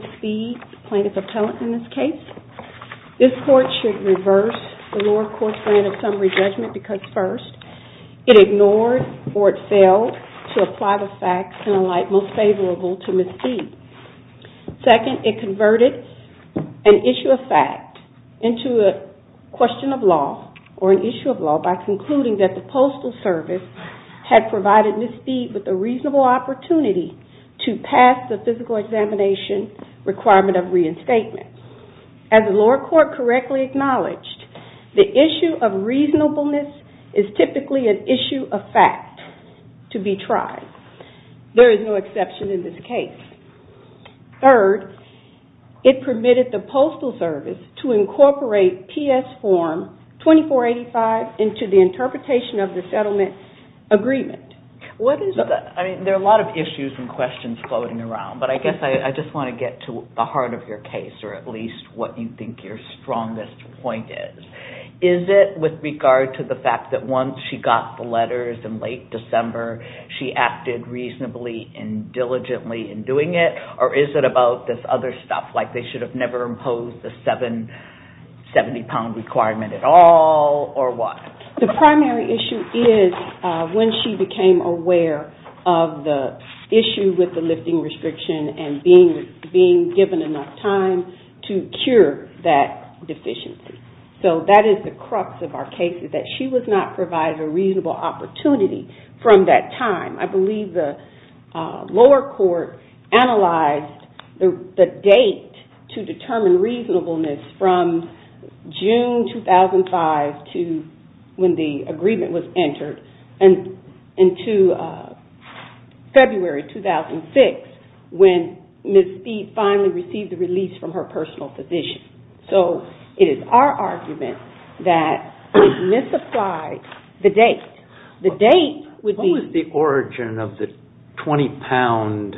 Court of Appellate, this court should reverse the lower court's plan of summary judgment because first, it ignored or it failed to apply the facts in a light most favorable to Misdeed. Second, it converted an issue of fact into a question of law or an issue of law by concluding that the Postal Service had provided Misdeed with a reasonable opportunity to pass the physical examination requirement of reinstatement. As the lower court correctly acknowledged, the issue of reasonableness is typically an issue of fact to be tried. There is no exception in this case. Third, it permitted the Postal Service to incorporate PS form 2485 into the interpretation of the settlement agreement. There are a lot of issues and questions floating around, but I guess I just want to get to the heart of your case, or at least what you think your strongest point is. Is it with regard to the fact that once she got the letters in late December, she acted reasonably and diligently in doing it, or is it about this other stuff, like they should have never imposed the 70 pound requirement at all, or what? The primary issue is when she became aware of the issue with the lifting restriction and being given enough time to cure that deficiency. That is the crux of our case, that she was not provided a reasonable opportunity from that time. I believe the lower court analyzed the date to determine reasonableness from June 2005 to when the agreement was entered and to February 2006, when Ms. Speed finally received the release from her personal position. So it is our argument that we misapplied the date. The date would be... What was the origin of the 20 pound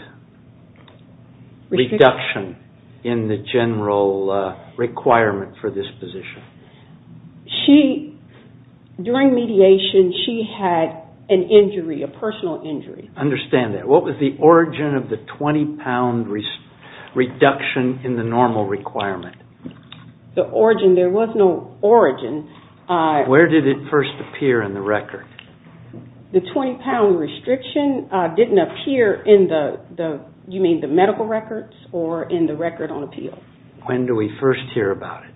reduction in the general requirement for this position? During mediation, she had an injury, a personal injury. Understand that. What was the origin of the 20 pound reduction in the normal requirement? The origin, there was no origin. Where did it first appear in the record? The 20 pound restriction did not appear in the medical records or in the record on appeal. When do we first hear about it?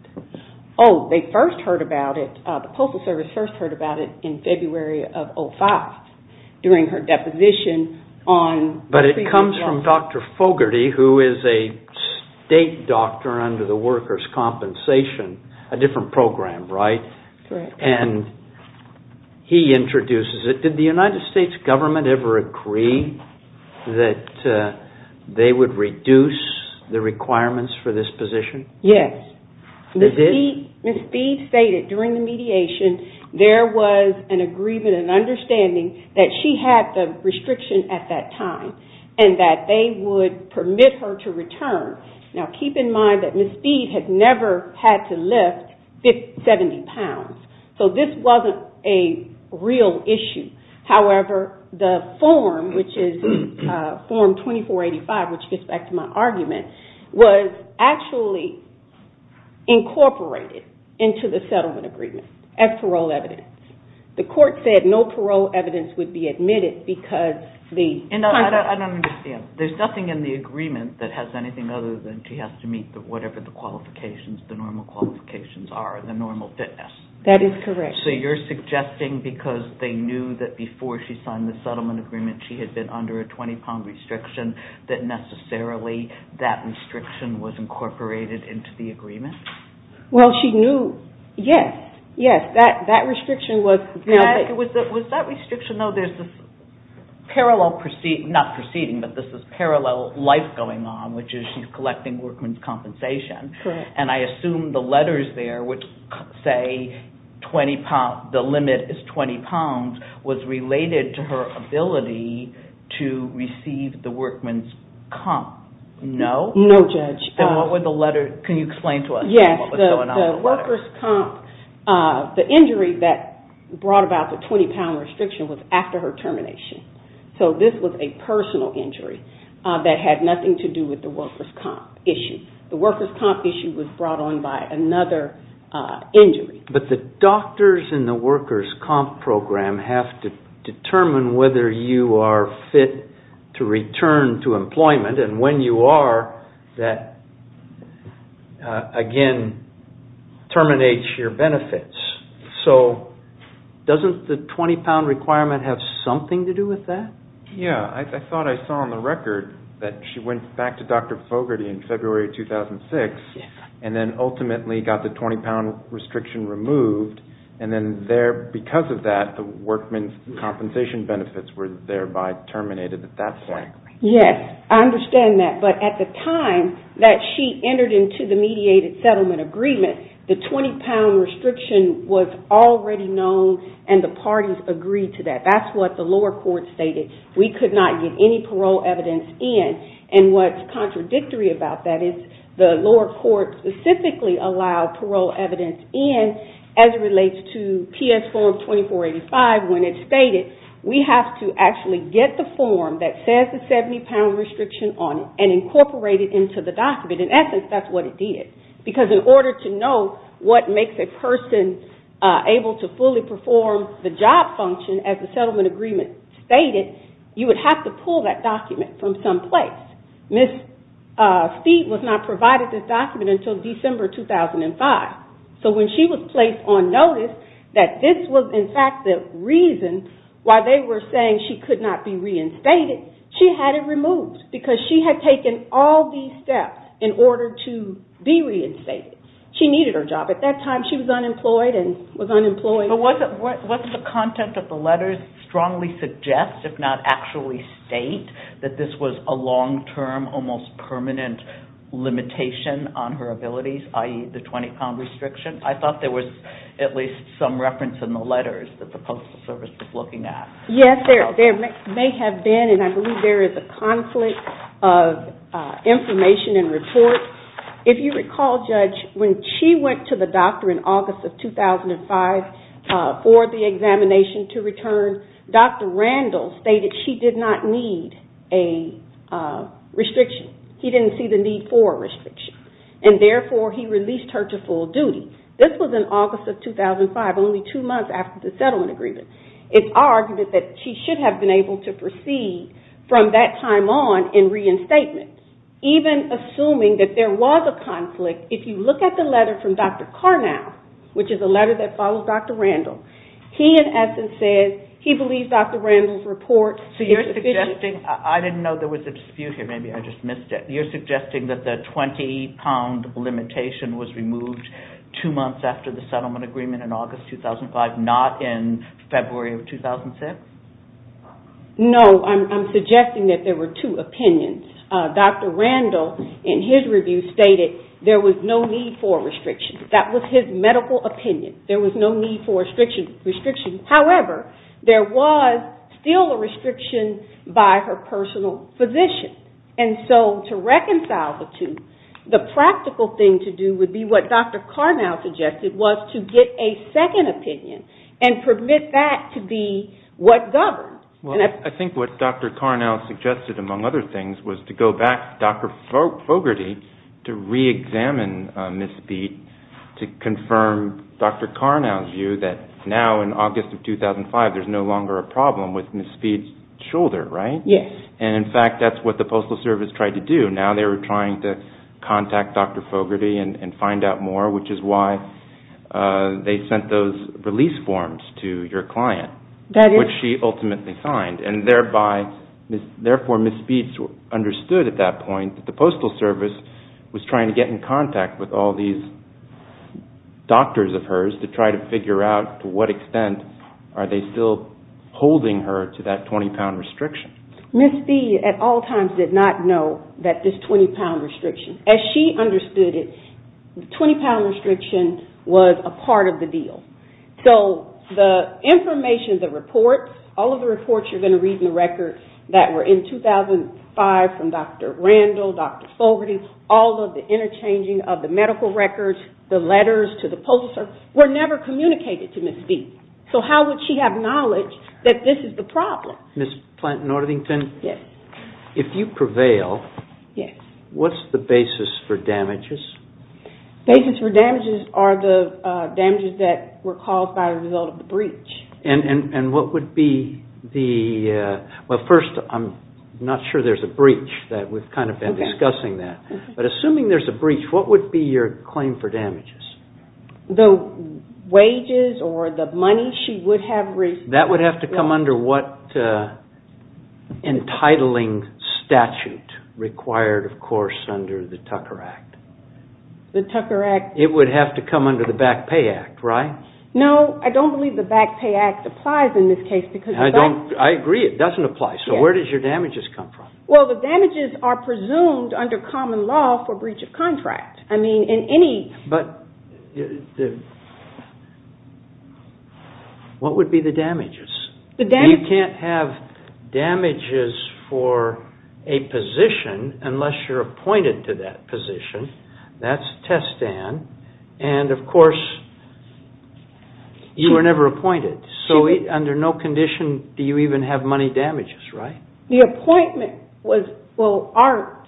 They first heard about it, the Postal Service first heard about it in February of 2005 during her deposition on... But it comes from Dr. Fogarty, who is a state doctor under the workers' compensation, a different program, right? Correct. He introduces it. Did the United States government ever agree that they would reduce the requirements for this position? Yes. They did? Ms. Speed stated during the mediation, there was an agreement, an understanding that she had the restriction at that time and that they would permit her to return. Now keep in mind that Ms. Speed had never had to lift 70 pounds, so this wasn't a real issue. However, the form, which is form 2485, which gets back to my argument, was actually incorporated into the settlement agreement as parole evidence. The court said no parole evidence would be admitted because the contract... I don't understand. There's nothing in the agreement that has anything other than she has to meet whatever the qualifications, the normal qualifications are, the normal fitness. That is correct. So you're suggesting because they knew that before she signed the settlement agreement she had been under a 20 pound restriction that necessarily that restriction was incorporated into the agreement? Well she knew, yes, yes. That restriction was... Was that restriction, though, there's this parallel, not proceeding, but this is parallel life going on, which is she's collecting workman's compensation. I assume the letters there would say the limit is 20 pounds was related to her ability to receive the workman's comp. No? No, Judge. Then what would the letter, can you explain to us what was going on with the letter? Yes, the worker's comp, the injury that brought about the 20 pound restriction was after her termination. So this was a personal injury that had nothing to do with the worker's comp issue. The worker's comp issue was brought on by another injury. But the doctors in the worker's comp program have to determine whether you are fit to return to employment and when you are, that again, terminates your benefits. So doesn't the 20 pound requirement have something to do with that? Yes, I thought I saw on the record that she went back to Dr. Fogarty in February 2006 and then ultimately got the 20 pound restriction removed and then there, because of that, the workman's compensation benefits were thereby terminated at that point. Yes, I understand that. But at the time that she entered into the mediated settlement agreement, the 20 pound restriction was already known and the parties agreed to that. That's what the lower court stated. We could not get any parole evidence in. And what's contradictory about that is the lower court specifically allowed parole evidence in as it relates to actually get the form that says the 70 pound restriction on it and incorporate it into the document. In essence, that's what it did. Because in order to know what makes a person able to fully perform the job function as the settlement agreement stated, you would have to pull that document from some place. Ms. Feet was not provided this document until December 2005. So when she was placed on notice, that this was in fact the reason why they were saying she could not be reinstated, she had it removed because she had taken all these steps in order to be reinstated. She needed her job. At that time, she was unemployed and was unemployed. But wasn't the content of the letters strongly suggest, if not actually state, that this was a long-term, almost permanent limitation on her abilities, i.e. the 20 pound restriction? I thought there was at least some reference in the letters that the Postal Service was looking at. Yes, there may have been and I believe there is a conflict of information and reports. If you recall, Judge, when she went to the doctor in August of 2005 for the examination to return, Dr. Randall stated she did not need a restriction. He didn't see the need for a restriction. And therefore, he released her to full duty. This was in August of 2005, only two months after the settlement agreement. It's argued that she should have been able to proceed from that time on in reinstatement. Even assuming that there was a conflict, if you look at the letter from Dr. Carnow, which is a letter that follows Dr. Randall, he in essence says he believes Dr. Randall's report. So you're suggesting, I didn't know there was a dispute here, maybe I just missed it. You're suggesting that the 20 pound limitation was removed two months after the settlement agreement in August 2005, not in February of 2006? No, I'm suggesting that there were two opinions. Dr. Randall, in his review, stated there was no need for a restriction. That was his medical opinion. There was no need for a restriction. However, there was still a restriction by her personal physician. And so to reconcile the two, the practical thing to do would be what Dr. Carnow suggested, was to get a second opinion and permit that to be what governs. I think what Dr. Carnow suggested, among other things, was to go back to Dr. Fogarty to re-examine Ms. Beat to confirm Dr. Carnow's view that now in August of 2005, there's no longer a problem with Ms. Beat's shoulder, right? Yes. And in fact, that's what the Postal Service tried to do. Now they were trying to contact Dr. Fogarty and find out more, which is why they sent those release forms to your client, which she ultimately signed. Therefore, Ms. Beat understood at that point that the Postal Service was going to contact with all these doctors of hers to try to figure out to what extent are they still holding her to that 20-pound restriction. Ms. Beat at all times did not know that this 20-pound restriction, as she understood it, the 20-pound restriction was a part of the deal. So the information, the reports, all of the reports you're going to read in the record that were in 2005 from Dr. Randall, Dr. Fogarty, all of the interchanging of the medical records, the letters to the Postal Service, were never communicated to Ms. Beat. So how would she have knowledge that this is the problem? Ms. Planton-Northington, if you prevail, what's the basis for damages? Basis for damages are the damages that were caused by the result of the breach. And what would be the, well first, I'm not sure there's a breach, we've kind of been discussing that, but assuming there's a breach, what would be your claim for damages? The wages or the money she would have received. That would have to come under what entitling statute required, of course, under the Tucker Act? The Tucker Act. It would have to come under the Back Pay Act, right? No, I don't believe the Back Pay Act applies in this case because... I agree, it doesn't apply. So where did your damages come from? Well, the damages are presumed under common law for breach of contract. I mean, in any... What would be the damages? The damages... You can't have damages for a position unless you're appointed to that position. That's right. You were never appointed, so under no condition do you even have money damages, right? The appointment was, well, our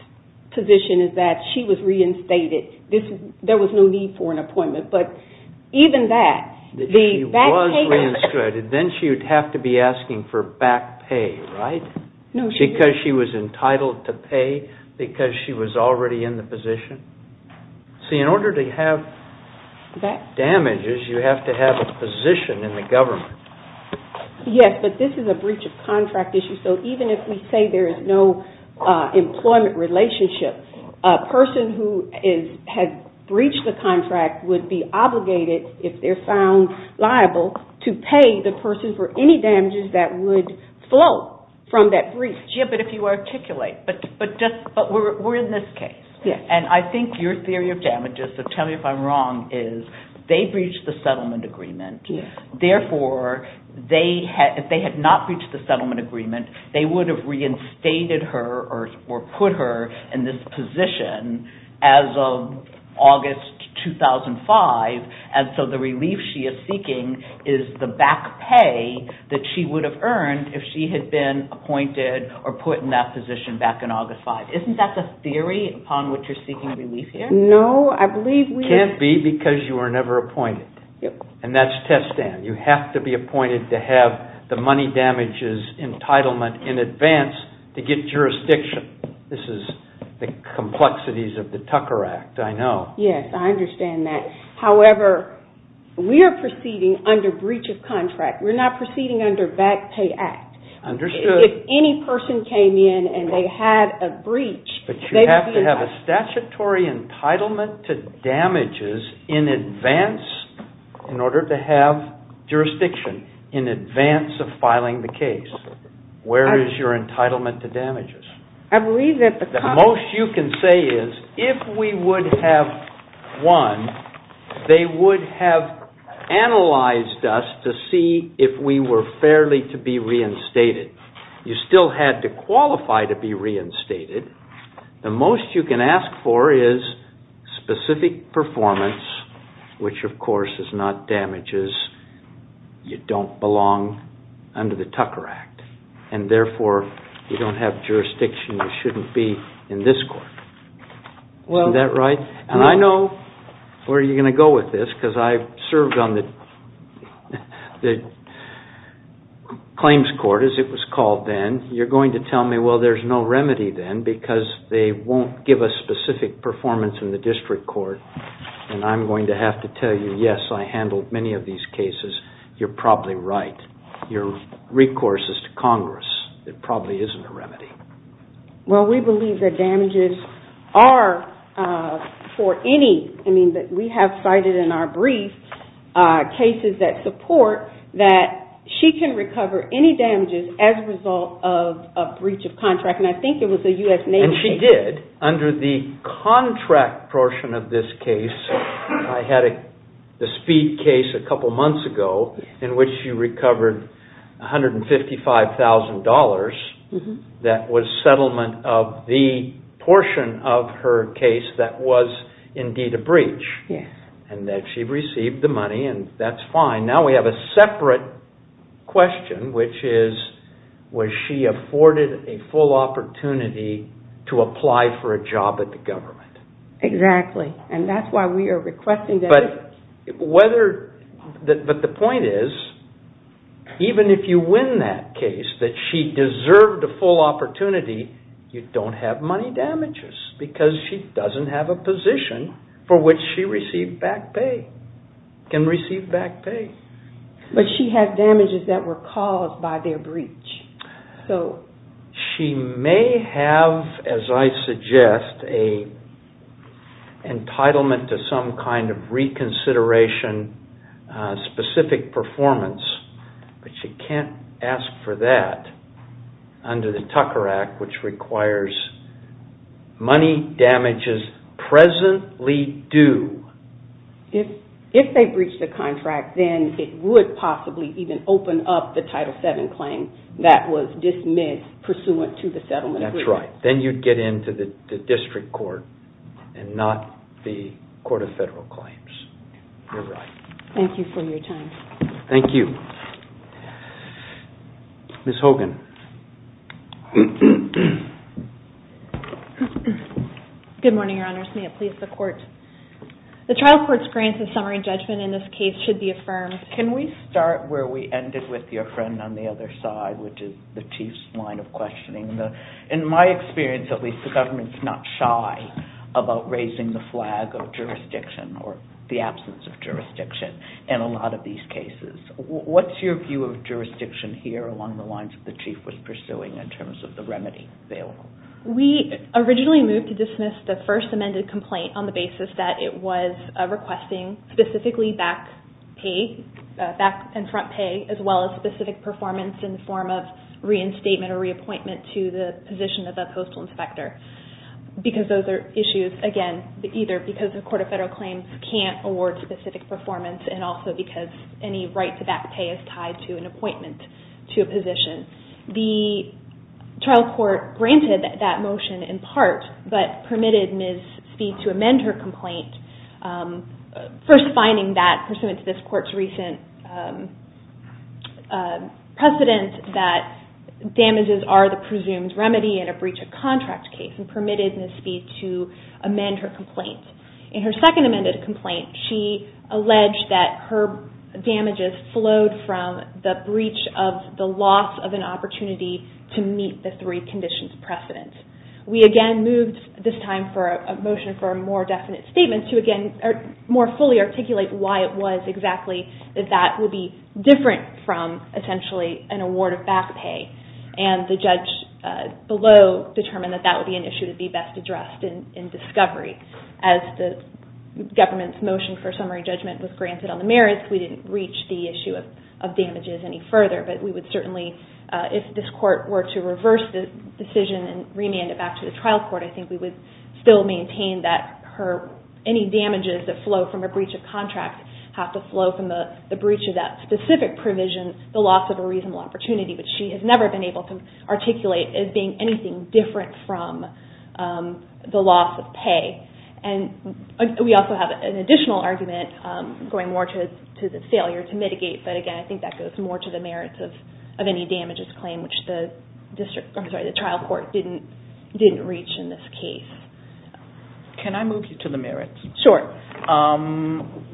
position is that she was reinstated. There was no need for an appointment, but even that, the Back Pay Act... If she was reinstated, then she would have to be asking for back pay, right? No, she... Because she was entitled to pay because she was already in the position? See, in order to have damages, you have to have a position in the government. Yes, but this is a breach of contract issue, so even if we say there is no employment relationship, a person who has breached the contract would be obligated, if they're found liable, to pay the person for any damages that would flow from that breach. Yeah, but if you articulate, but we're in this case, and I think your theory of damages is, so tell me if I'm wrong, is they breached the settlement agreement. Therefore, if they had not breached the settlement agreement, they would have reinstated her or put her in this position as of August 2005, and so the relief she is seeking is the back pay that she would have earned if she had been appointed or put in that position back in August 5. Isn't that the theory upon which you're seeking relief here? No, I believe we... Can't be because you were never appointed, and that's test stand. You have to be appointed to have the money damages entitlement in advance to get jurisdiction. This is the complexities of the Tucker Act, I know. Yes, I understand that. However, we are proceeding under breach of contract. We're not proceeding under back pay act. Understood. If any person came in and they had a breach... But you have to have a statutory entitlement to damages in advance in order to have jurisdiction in advance of filing the case. Where is your entitlement to damages? I believe that the... The most you can say is if we would have won, they would have analyzed us to see if we were fairly to be reinstated. You still had to qualify to be reinstated. The most you can ask for is specific performance, which of course is not damages. You don't belong under the Tucker Act, and therefore, you don't have jurisdiction. You shouldn't be in this court. Isn't that right? And I know where you're going to go with this because I've served on the claims court, as it was called then. You're going to tell me, well, there's no remedy then because they won't give us specific performance in the district court. And I'm going to have to tell you, yes, I handled many of these cases. You're probably right. Your recourse is to Congress. It probably isn't a remedy. Well, we believe that damages are for any... I mean, we have cited in our brief cases that support that she can recover any damages as a result of a breach of contract. And I think it was a U.S. Navy case. And she did. Under the contract portion of this case, I had the Speed case a couple months ago, in which she recovered $155,000. That was settlement of the portion of her case that was indeed a breach. And that she received the money, and that's fine. Now we have a separate question, which is, was she afforded a full opportunity to apply for a job at the government? Exactly. And that's why we are requesting that... But the point is, even if you win that case, that she deserved a full opportunity, you don't have money damages because she doesn't have a position for which she received back pay, can receive back pay. But she had damages that were caused by their breach. She may have, as I suggest, an entitlement to some kind of reconsideration, specific performance, but she can't ask for that under the Tucker Act, which requires money damages presently due. If they breached the contract, then it would possibly even open up the Title VII claim that was dismissed pursuant to the settlement agreement. That's right. Then you'd get into the district court, and not the Court of Federal Claims. Thank you for your time. Thank you. Ms. Hogan. Good morning, Your Honors. May it please the Court. The trial court's grants of summary judgment in this case should be affirmed. Can we start where we ended with your friend on the other side, which is the Chief's line of questioning? In my experience, at least, the government's not shy about raising the flag of jurisdiction, or the absence of jurisdiction, in a lot of these cases. What's your view of jurisdiction here, along the lines of the Chief was pursuing, in terms of the remedy available? We originally moved to dismiss the first amended complaint on the basis that it was requesting specifically back pay, back and front pay, as well as specific performance in the form of reinstatement or reappointment to the position of the postal inspector, because those are issues, again, either because the Court of Federal Claims can't award specific performance, and also because any right to back pay is tied to an appointment to a position. The trial court granted that motion, in part, but permitted Ms. Speed to amend her complaint, first finding that, pursuant to this court's recent precedent, that damages are the presumed remedy in a breach of contract case, and permitted Ms. Speed to amend her complaint. In her second amended complaint, she alleged that her damages flowed from the breach of the loss of an opportunity to meet the three conditions precedent. We, again, moved this time for a motion for a more definite statement to, again, more fully articulate why it was exactly that that would be different from, essentially, an award of back pay, and the government's motion for summary judgment was granted on the merits. We didn't reach the issue of damages any further, but we would certainly, if this court were to reverse the decision and remand it back to the trial court, I think we would still maintain that any damages that flow from a breach of contract have to flow from the breach of that specific provision, the loss of a reasonable opportunity, which she has never been able to articulate as being anything different from the loss of pay. We also have an additional argument going more to the failure to mitigate, but again, I think that goes more to the merits of any damages claim, which the trial court didn't reach in this case. Can I move you to the merits? Sure.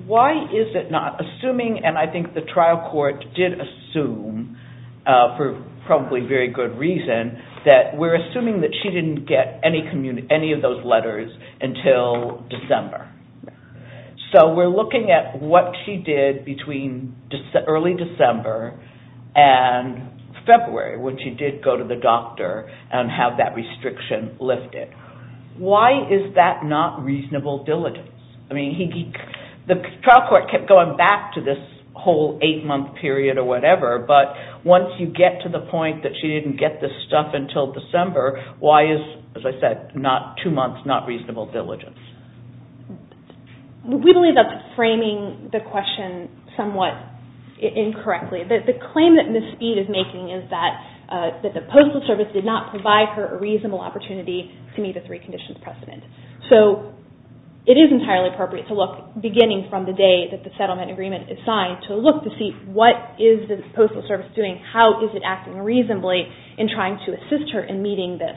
Why is it not assuming, and I think the trial court did assume, for probably very good reason, that we're assuming that she didn't get any of those letters until December. So we're looking at what she did between early December and February, when she did go to the doctor and have that restriction lifted. Why is that not reasonable diligence? The trial court kept going back to this whole eight-month period or whatever, but once you get to the stuff until December, why is, as I said, not two months, not reasonable diligence? We believe that's framing the question somewhat incorrectly. The claim that Ms. Speed is making is that the Postal Service did not provide her a reasonable opportunity to meet a three conditions precedent. So it is entirely appropriate to look, beginning from the day that the settlement agreement is signed, to look to see what is the Postal Service doing, how is it acting reasonably in trying to assist her in meeting this.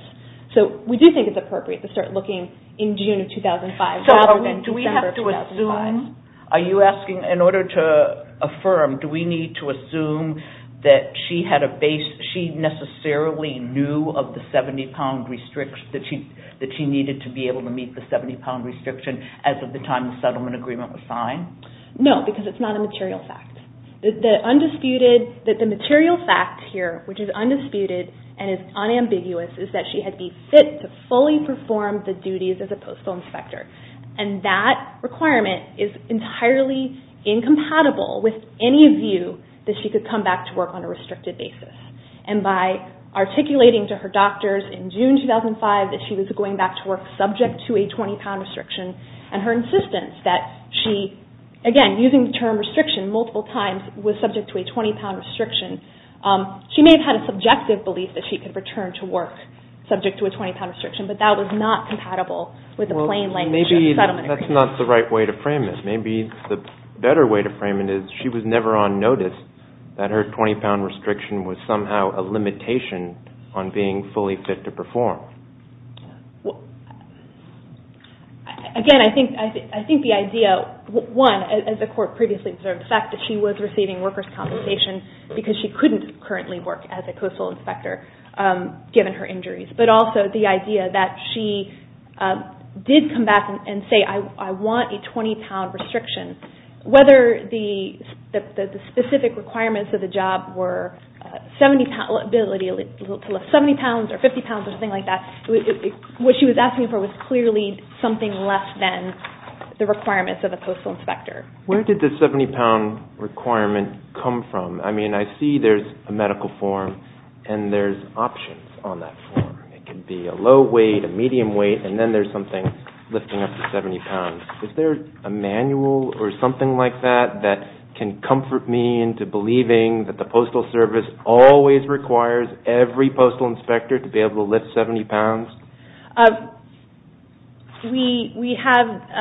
So we do think it's appropriate to start looking in June of 2005 rather than December of 2005. Are you asking, in order to affirm, do we need to assume that she necessarily knew of the 70-pound restriction, that she needed to be able to meet the 70-pound restriction No, because it's not a material fact. The material fact here, which is undisputed and is unambiguous, is that she had to be fit to fully perform the duties as a postal inspector. And that requirement is entirely incompatible with any view that she could come back to work on a restricted basis. And by articulating to her doctors in June 2005 that she was going back to work subject to a 20-pound restriction, and her insistence that she, again, using the term restriction multiple times, was subject to a 20-pound restriction, she may have had a subjective belief that she could return to work subject to a 20-pound restriction, but that was not compatible with the plain language of the settlement agreement. Well, maybe that's not the right way to frame it. Maybe the better way to frame it is she was never on notice that her 20-pound restriction was somehow a limitation on being fully fit to perform. Again, I think the idea, one, as the Court previously observed, the fact that she was receiving workers' compensation because she couldn't currently work as a postal inspector given her injuries, but also the idea that she did come back and say, I want a 20-pound restriction. Whether the specific requirements of the job were 70 pounds or 50 pounds or something like that, what she was asking for was clearly something less than the requirements of a postal inspector. Where did the 70-pound requirement come from? I mean, I see there's a medical form and there's options on that form. It can be a low weight, a medium weight, and then there's something lifting up to 70 pounds. Is there a manual or something like that that can comfort me into believing that the Postal Service always requires every postal inspector to be able to lift 70 pounds?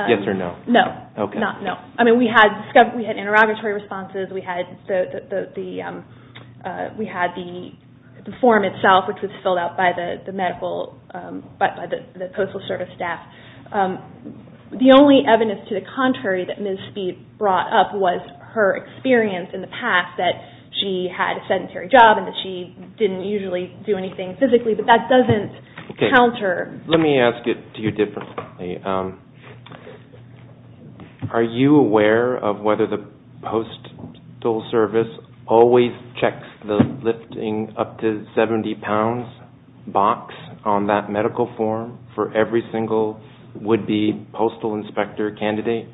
Yes or no? No. Not no. I mean, we had interrogatory responses. We had the form itself, which was filled out by the Postal Service staff. The only evidence to the contrary that Ms. Speed brought up was her experience in the past that she had a sedentary job and that she didn't usually do anything physically, but that doesn't counter. Let me ask it to you differently. Are you aware of whether the Postal Service always checks the lifting up to 70 pounds box on that medical form for every single would-be postal inspector candidate?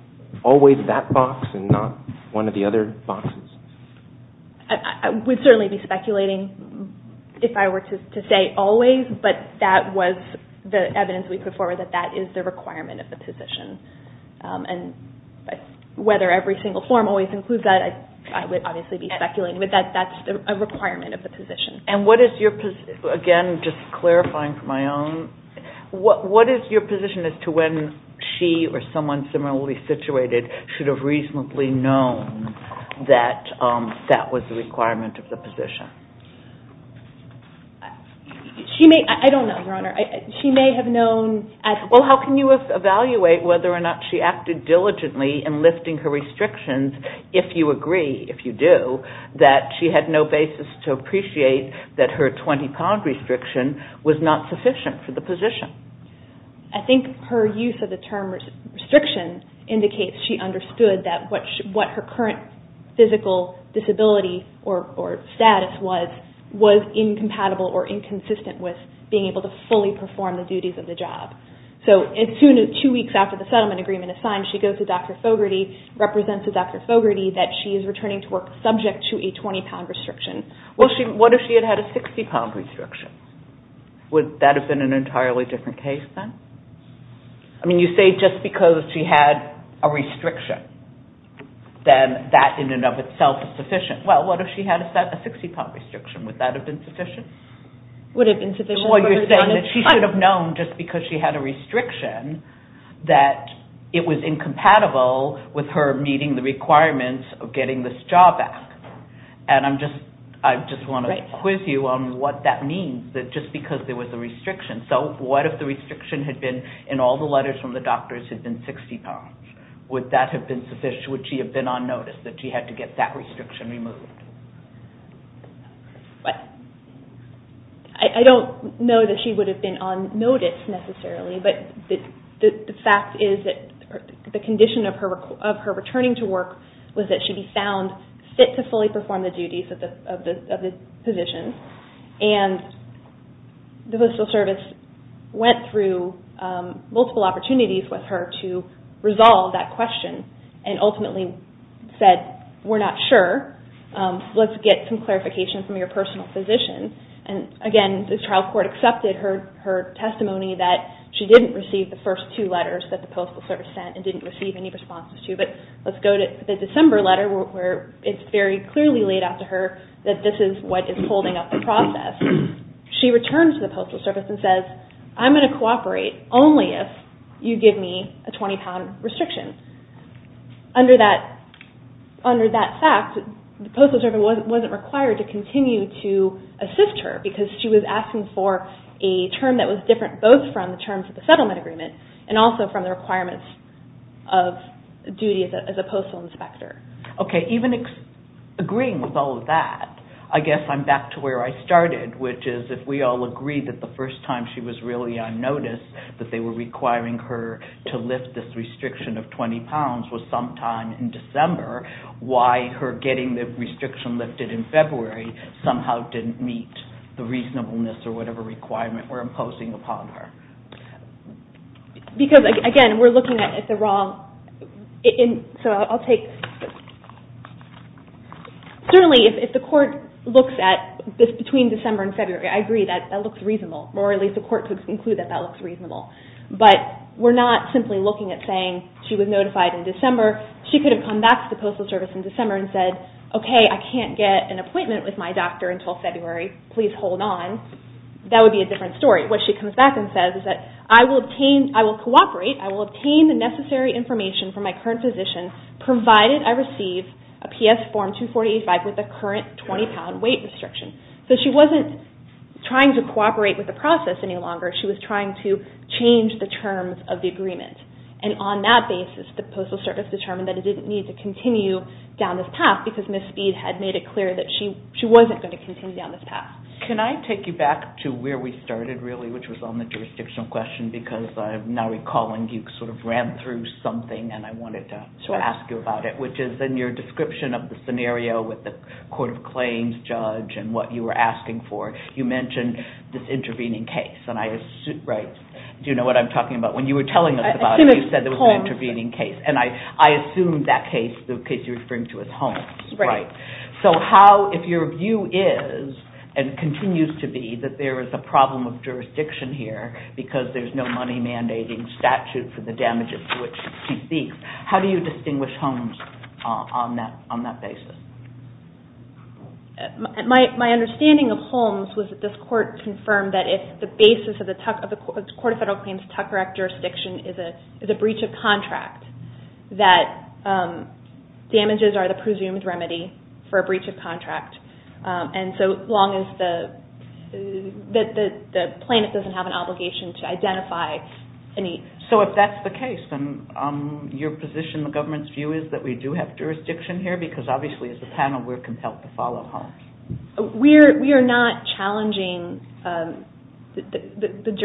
Always that box and not one of the other boxes? I would certainly be speculating if I were to say always, but that was the evidence we put forward that that is the requirement of the position. Whether every single form always includes that, I would obviously be speculating, but that's a requirement of the position. Again, just clarifying for my own, what is your position as to when she or someone similarly situated should have reasonably known that that was the requirement of the position? She may, I don't know, Your Honor. She may have known... Well, how can you evaluate whether or not she acted diligently in lifting her restrictions if you agree, if you do, that she had no basis to appreciate that her 20-pound restriction was not sufficient for the position? I think her use of the term restriction indicates she understood that what her current physical disability or status was, was incompatible or inconsistent with being able to fully perform the duties of the job. As soon as two weeks after the settlement agreement is signed, she goes to Dr. Fogarty, represents to Dr. Fogarty that she is returning to work subject to a 20-pound restriction. What if she had had a 60-pound restriction? Would that have been an entirely different case then? I mean, you say just because she had a restriction, then that in and of itself is sufficient. Well, what if she had a 60-pound restriction? Would that have been sufficient? Would it have been sufficient? Well, you're saying that she should have known just because she had a restriction that it was incompatible with her meeting the requirements of getting this job back. I just want to quiz you on what that means, that just because there was a restriction. So what if the restriction had been, in all the letters from the doctors, had been 60 pounds? Would that have been sufficient? Would she have been on notice that she had to get that restriction removed? I don't know that she would have been on notice necessarily, but the fact is that the condition of her returning to work was that she be found fit to fully perform the duties of the position. And the Postal Service went through multiple opportunities with her to resolve that question and ultimately said, we're not sure. Let's get some clarification from your personal position. And again, the trial court accepted her testimony that she didn't receive the first two letters that the Postal Service sent and didn't receive any responses to. But let's go to the December letter where it's very clearly laid out to her that this is what is holding up the process. She returns to the Postal Service and says, I'm going to cooperate only if you give me a 20 pound restriction. Under that fact, the Postal Service wasn't required to continue to assist her because she was asking for a term that was different both from the terms of the settlement agreement and also from the requirements of duty as a postal inspector. Okay, even agreeing with all of that, I guess I'm back to where I started, which is if we all agree that the first time she was really unnoticed that they were requiring her to lift this restriction of 20 pounds was sometime in December, why her getting the restriction lifted in February somehow didn't meet the reasonableness or whatever requirement we're imposing upon her? Because again, we're looking at the wrong... So I'll take... Certainly if the court looks at this between December and February, I agree that that looks reasonable, or at least the court could conclude that that looks reasonable. But we're not simply looking at saying she was notified in December. She could have come back to the Postal Service in December and said, okay, I can't get an appointment with my doctor until February. Please hold on. That would be a different story. What she comes back and says is that I will cooperate, I will obtain the necessary information from my current physician provided I receive a restriction. So she wasn't trying to cooperate with the process any longer. She was trying to change the terms of the agreement. And on that basis, the Postal Service determined that it didn't need to continue down this path because Ms. Speed had made it clear that she wasn't going to continue down this path. Can I take you back to where we started, really, which was on the jurisdictional question because I'm now recalling you sort of ran through something and I wanted to ask you about it, which is in your description of the scenario with the Court of Claims judge and what you were asking for, you mentioned this intervening case. Do you know what I'm talking about? When you were telling us about it, you said there was an intervening case. And I assumed that case, the case you were referring to, was Holmes. So how, if your view is and continues to be that there is a problem of jurisdiction here because there's no money mandating statute for the damages to which she speaks, how do you distinguish Holmes on that basis? My understanding of Holmes was that this Court confirmed that if the basis of the Court of Federal Claims' Tucker Act jurisdiction is a breach of contract, that damages are the presumed remedy for a breach of contract. And so long as the plaintiff doesn't have an obligation to identify any... So if that's the case, then your position, the government's view, is that we do have jurisdiction here? Because obviously as a panel we're compelled to follow Holmes. We are not challenging, I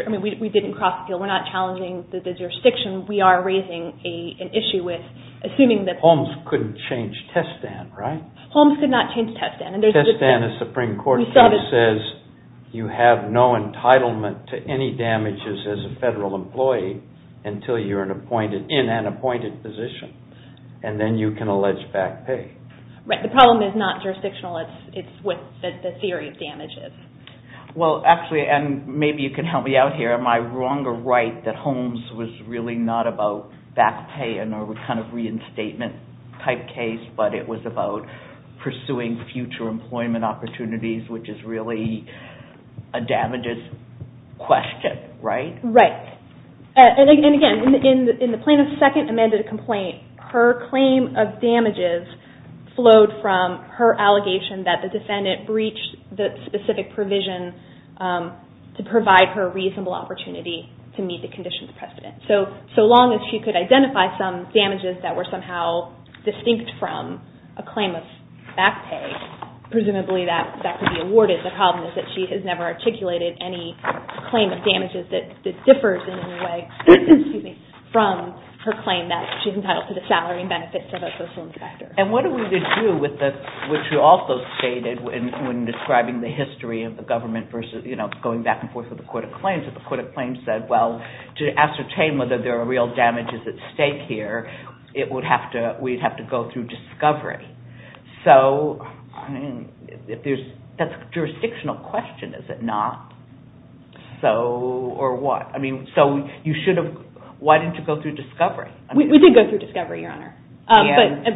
mean we didn't cross the field, we're not challenging the jurisdiction. We are raising an issue with assuming that... Holmes couldn't change Testan, right? Holmes could not change Testan. Testan, a Supreme Court case, says you have no entitlement to any damages as a federal employee until you're in an appointed position. And then you can allege back pay. Right, the problem is not jurisdictional, it's what the theory of damage is. Well actually, and maybe you can help me out here, am I wrong or right that Holmes was really not about back pay in a kind of reinstatement type case, but it was about pursuing future employment opportunities, which is really a damages question, right? Right. And again, in the plaintiff's second amended complaint, her claim of damages flowed from her allegation that the defendant breached the specific provision to provide her reasonable opportunity to meet the conditions precedent. So long as she could identify some damages that were somehow distinct from a claim of back pay, presumably that could be awarded. The problem is that she has never articulated any claim of damages that differs in any way from her claim that she's entitled to the salary and benefits of a social inspector. And what are we to do with the... which you also stated when describing the history of the government versus going back and forth with the court of claims, that the court of claims, it would have to... we'd have to go through discovery. So, I mean, if there's... that's a jurisdictional question, is it not? So, or what? I mean, so you should have... why didn't you go through discovery? We did go through discovery, Your Honor.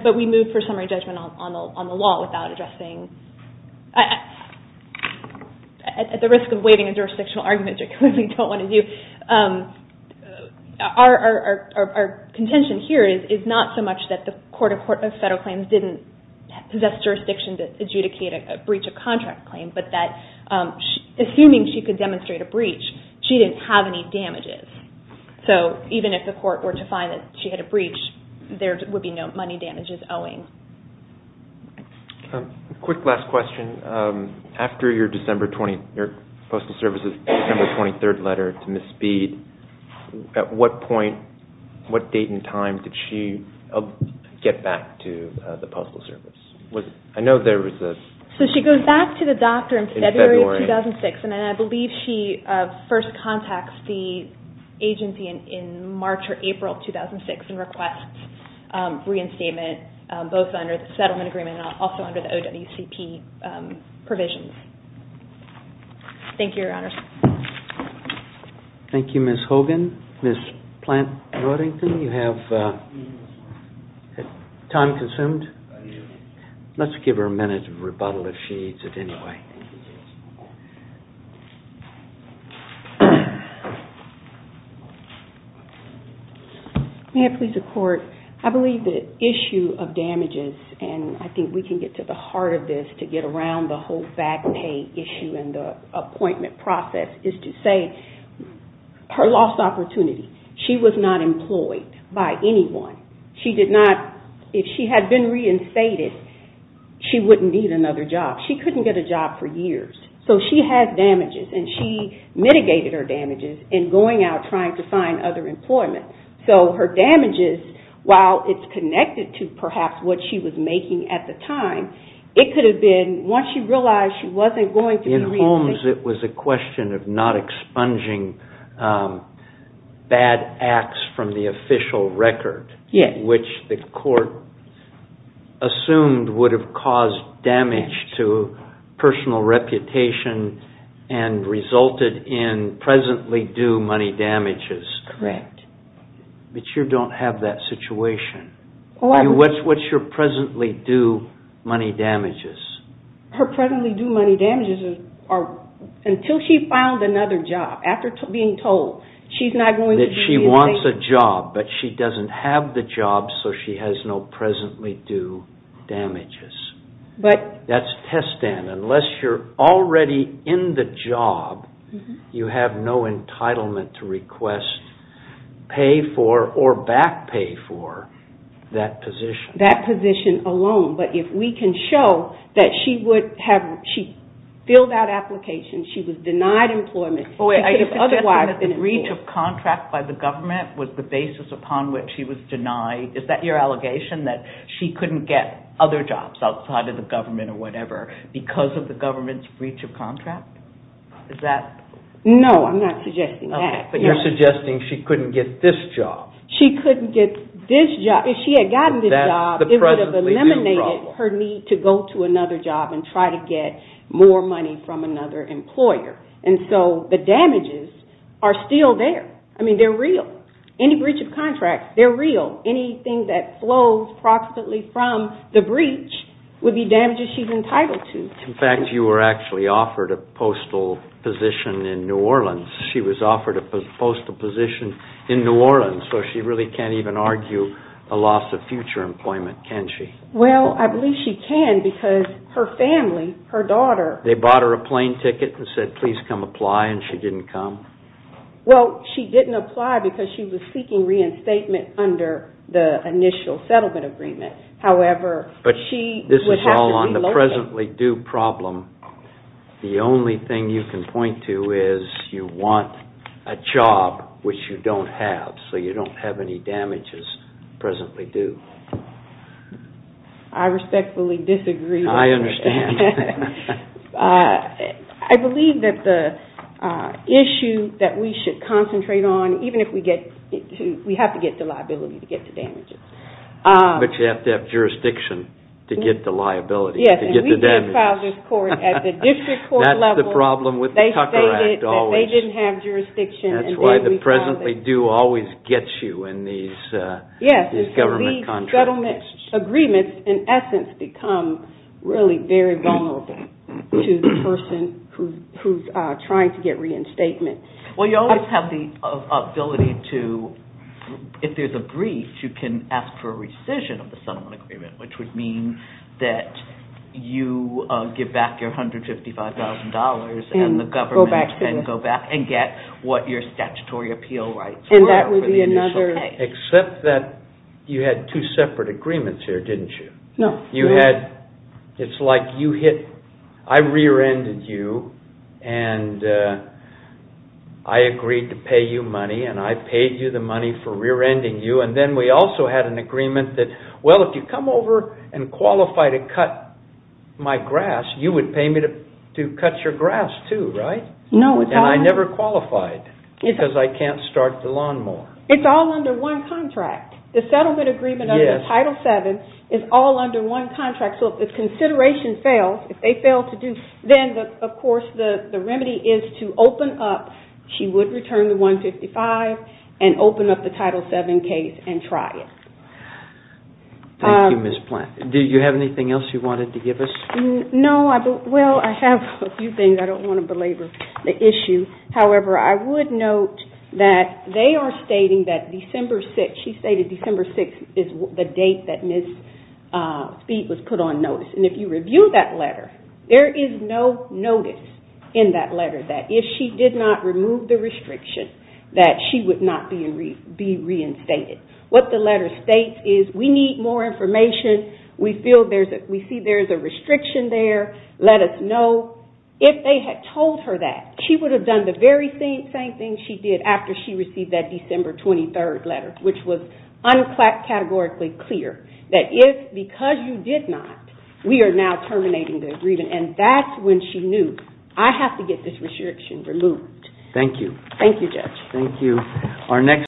But we moved for summary judgment on the law without addressing... at the risk of waiving a jurisdictional argument, which we don't want to do. Our contention here is not so much that the court of federal claims didn't possess jurisdiction to adjudicate a breach of contract claim, but that assuming she could demonstrate a breach, she didn't have any damages. So even if the court were to find that she had a breach, there would be no money damages owing. Quick last question. After your December 20... your Postal Service's December 23rd letter to Ms. Speed, at what point, what date and time did she get back to the Postal Service? Was it... I know there was a... So she goes back to the doctor in February of 2006, and then I believe she first contacts the agency in March or April of 2006 and requests reinstatement, both under the settlement agreement and also under the OWCP provisions. Thank you, Your Honors. Thank you, Ms. Hogan. Ms. Plant-Roddington, you have... time consumed? Let's give her a minute of rebuttal, if she needs it anyway. May I please report? I believe the issue of damages, and I think we can get to the heart of this to get around the whole fact pay issue and the appointment process, is to say her lost opportunity. She was not employed by anyone. She did not... if she had been reinstated, she wouldn't need another job. She couldn't get a job for years. So she has damages and she mitigated her damages in going out trying to find other employment. So her damages, while it's connected to perhaps what she was making at the time, it could have been, once she realized she wasn't going to be... In Holmes, it was a question of not expunging bad acts from the official record, which the court assumed would have caused damage to personal reputation and resulted in presently due money damages. Correct. But you don't have that situation. What's your presently due money damages? Her presently due money damages are until she found another job, after being told she's not going to be... That she wants a job, but she doesn't have the job, so she has no presently due damages. But... That's test and unless you're already in the job, you have no entitlement to request pay for or back pay for that position. That position alone, but if we can show that she would have... she filled out applications, she was denied employment, she could have otherwise been employed. Wait, are you suggesting that the breach of contract by the government was the basis upon which she was denied... is that your allegation, that she couldn't get other jobs outside of the government or whatever because of the government's breach of contract? Is that... No, I'm not suggesting that. Okay, but you're suggesting she couldn't get this job. She couldn't get this job. If she had gotten this job, it would have eliminated her need to go to another job and try to get more money from another employer. And so the damages are still there. I mean, they're real. Any breach of contract, they're real. Anything that flows approximately from the breach would be damages she's entitled to. In fact, you were actually offered a postal position in New Orleans. She was offered a postal position in New Orleans, so she really can't even argue a loss of future employment, can she? Well, I believe she can because her family, her daughter... Well, she didn't apply because she was seeking reinstatement under the initial settlement agreement. However, she would have to be located... This is all on the presently due problem. The only thing you can point to is you want a job which you don't have, so you don't have any damages presently due. I respectfully disagree with you. I understand. I believe that the issue that we should concentrate on, even if we get... We have to get the liability to get the damages. But you have to have jurisdiction to get the liability, to get the damages. Yes, and we did file this court at the district court level. That's the problem with the Tucker Act, always. They stated that they didn't have jurisdiction and then we filed it. That's why the presently due always gets you in these government contracts. Settlement agreements, in essence, become really very vulnerable to the person who's trying to get reinstatement. Well, you always have the ability to... If there's a breach, you can ask for a rescission of the settlement agreement, which would mean that you give back your $155,000 and the government can go back and get what your statutory appeal rights were for the initial case. Except that you had two separate agreements here, didn't you? No. You had... It's like you hit... I rear-ended you and I agreed to pay you money and I paid you the money for rear-ending you and then we also had an agreement that, well, if you come over and qualify to cut my grass, you would pay me to cut your grass too, right? No. And I never qualified because I can't start the lawnmower. It's all under one contract. The settlement agreement under Title VII is all under one contract, so if the consideration fails, if they fail to do... Then, of course, the remedy is to open up... She would return the $155,000 and open up the Title VII case and try it. Thank you, Ms. Platt. Do you have anything else you wanted to give us? No. Well, I have a few things. I don't want to belabor the issue. However, I would note that they are stating that December 6th... She stated December 6th is the date that Ms. Speed was put on notice. And if you review that letter, there is no notice in that letter that if she did not remove the restriction that she would not be reinstated. What the letter states is we need more information. We feel there's a... We see there's a restriction there. Let us know. If they had told her that, she would have done the very same thing she did after she received that December 23rd letter, which was uncategorically clear, that if... Because you did not, we are now terminating the agreement. And that's when she knew, I have to get this restriction removed. Thank you. Thank you, Judge. Thank you.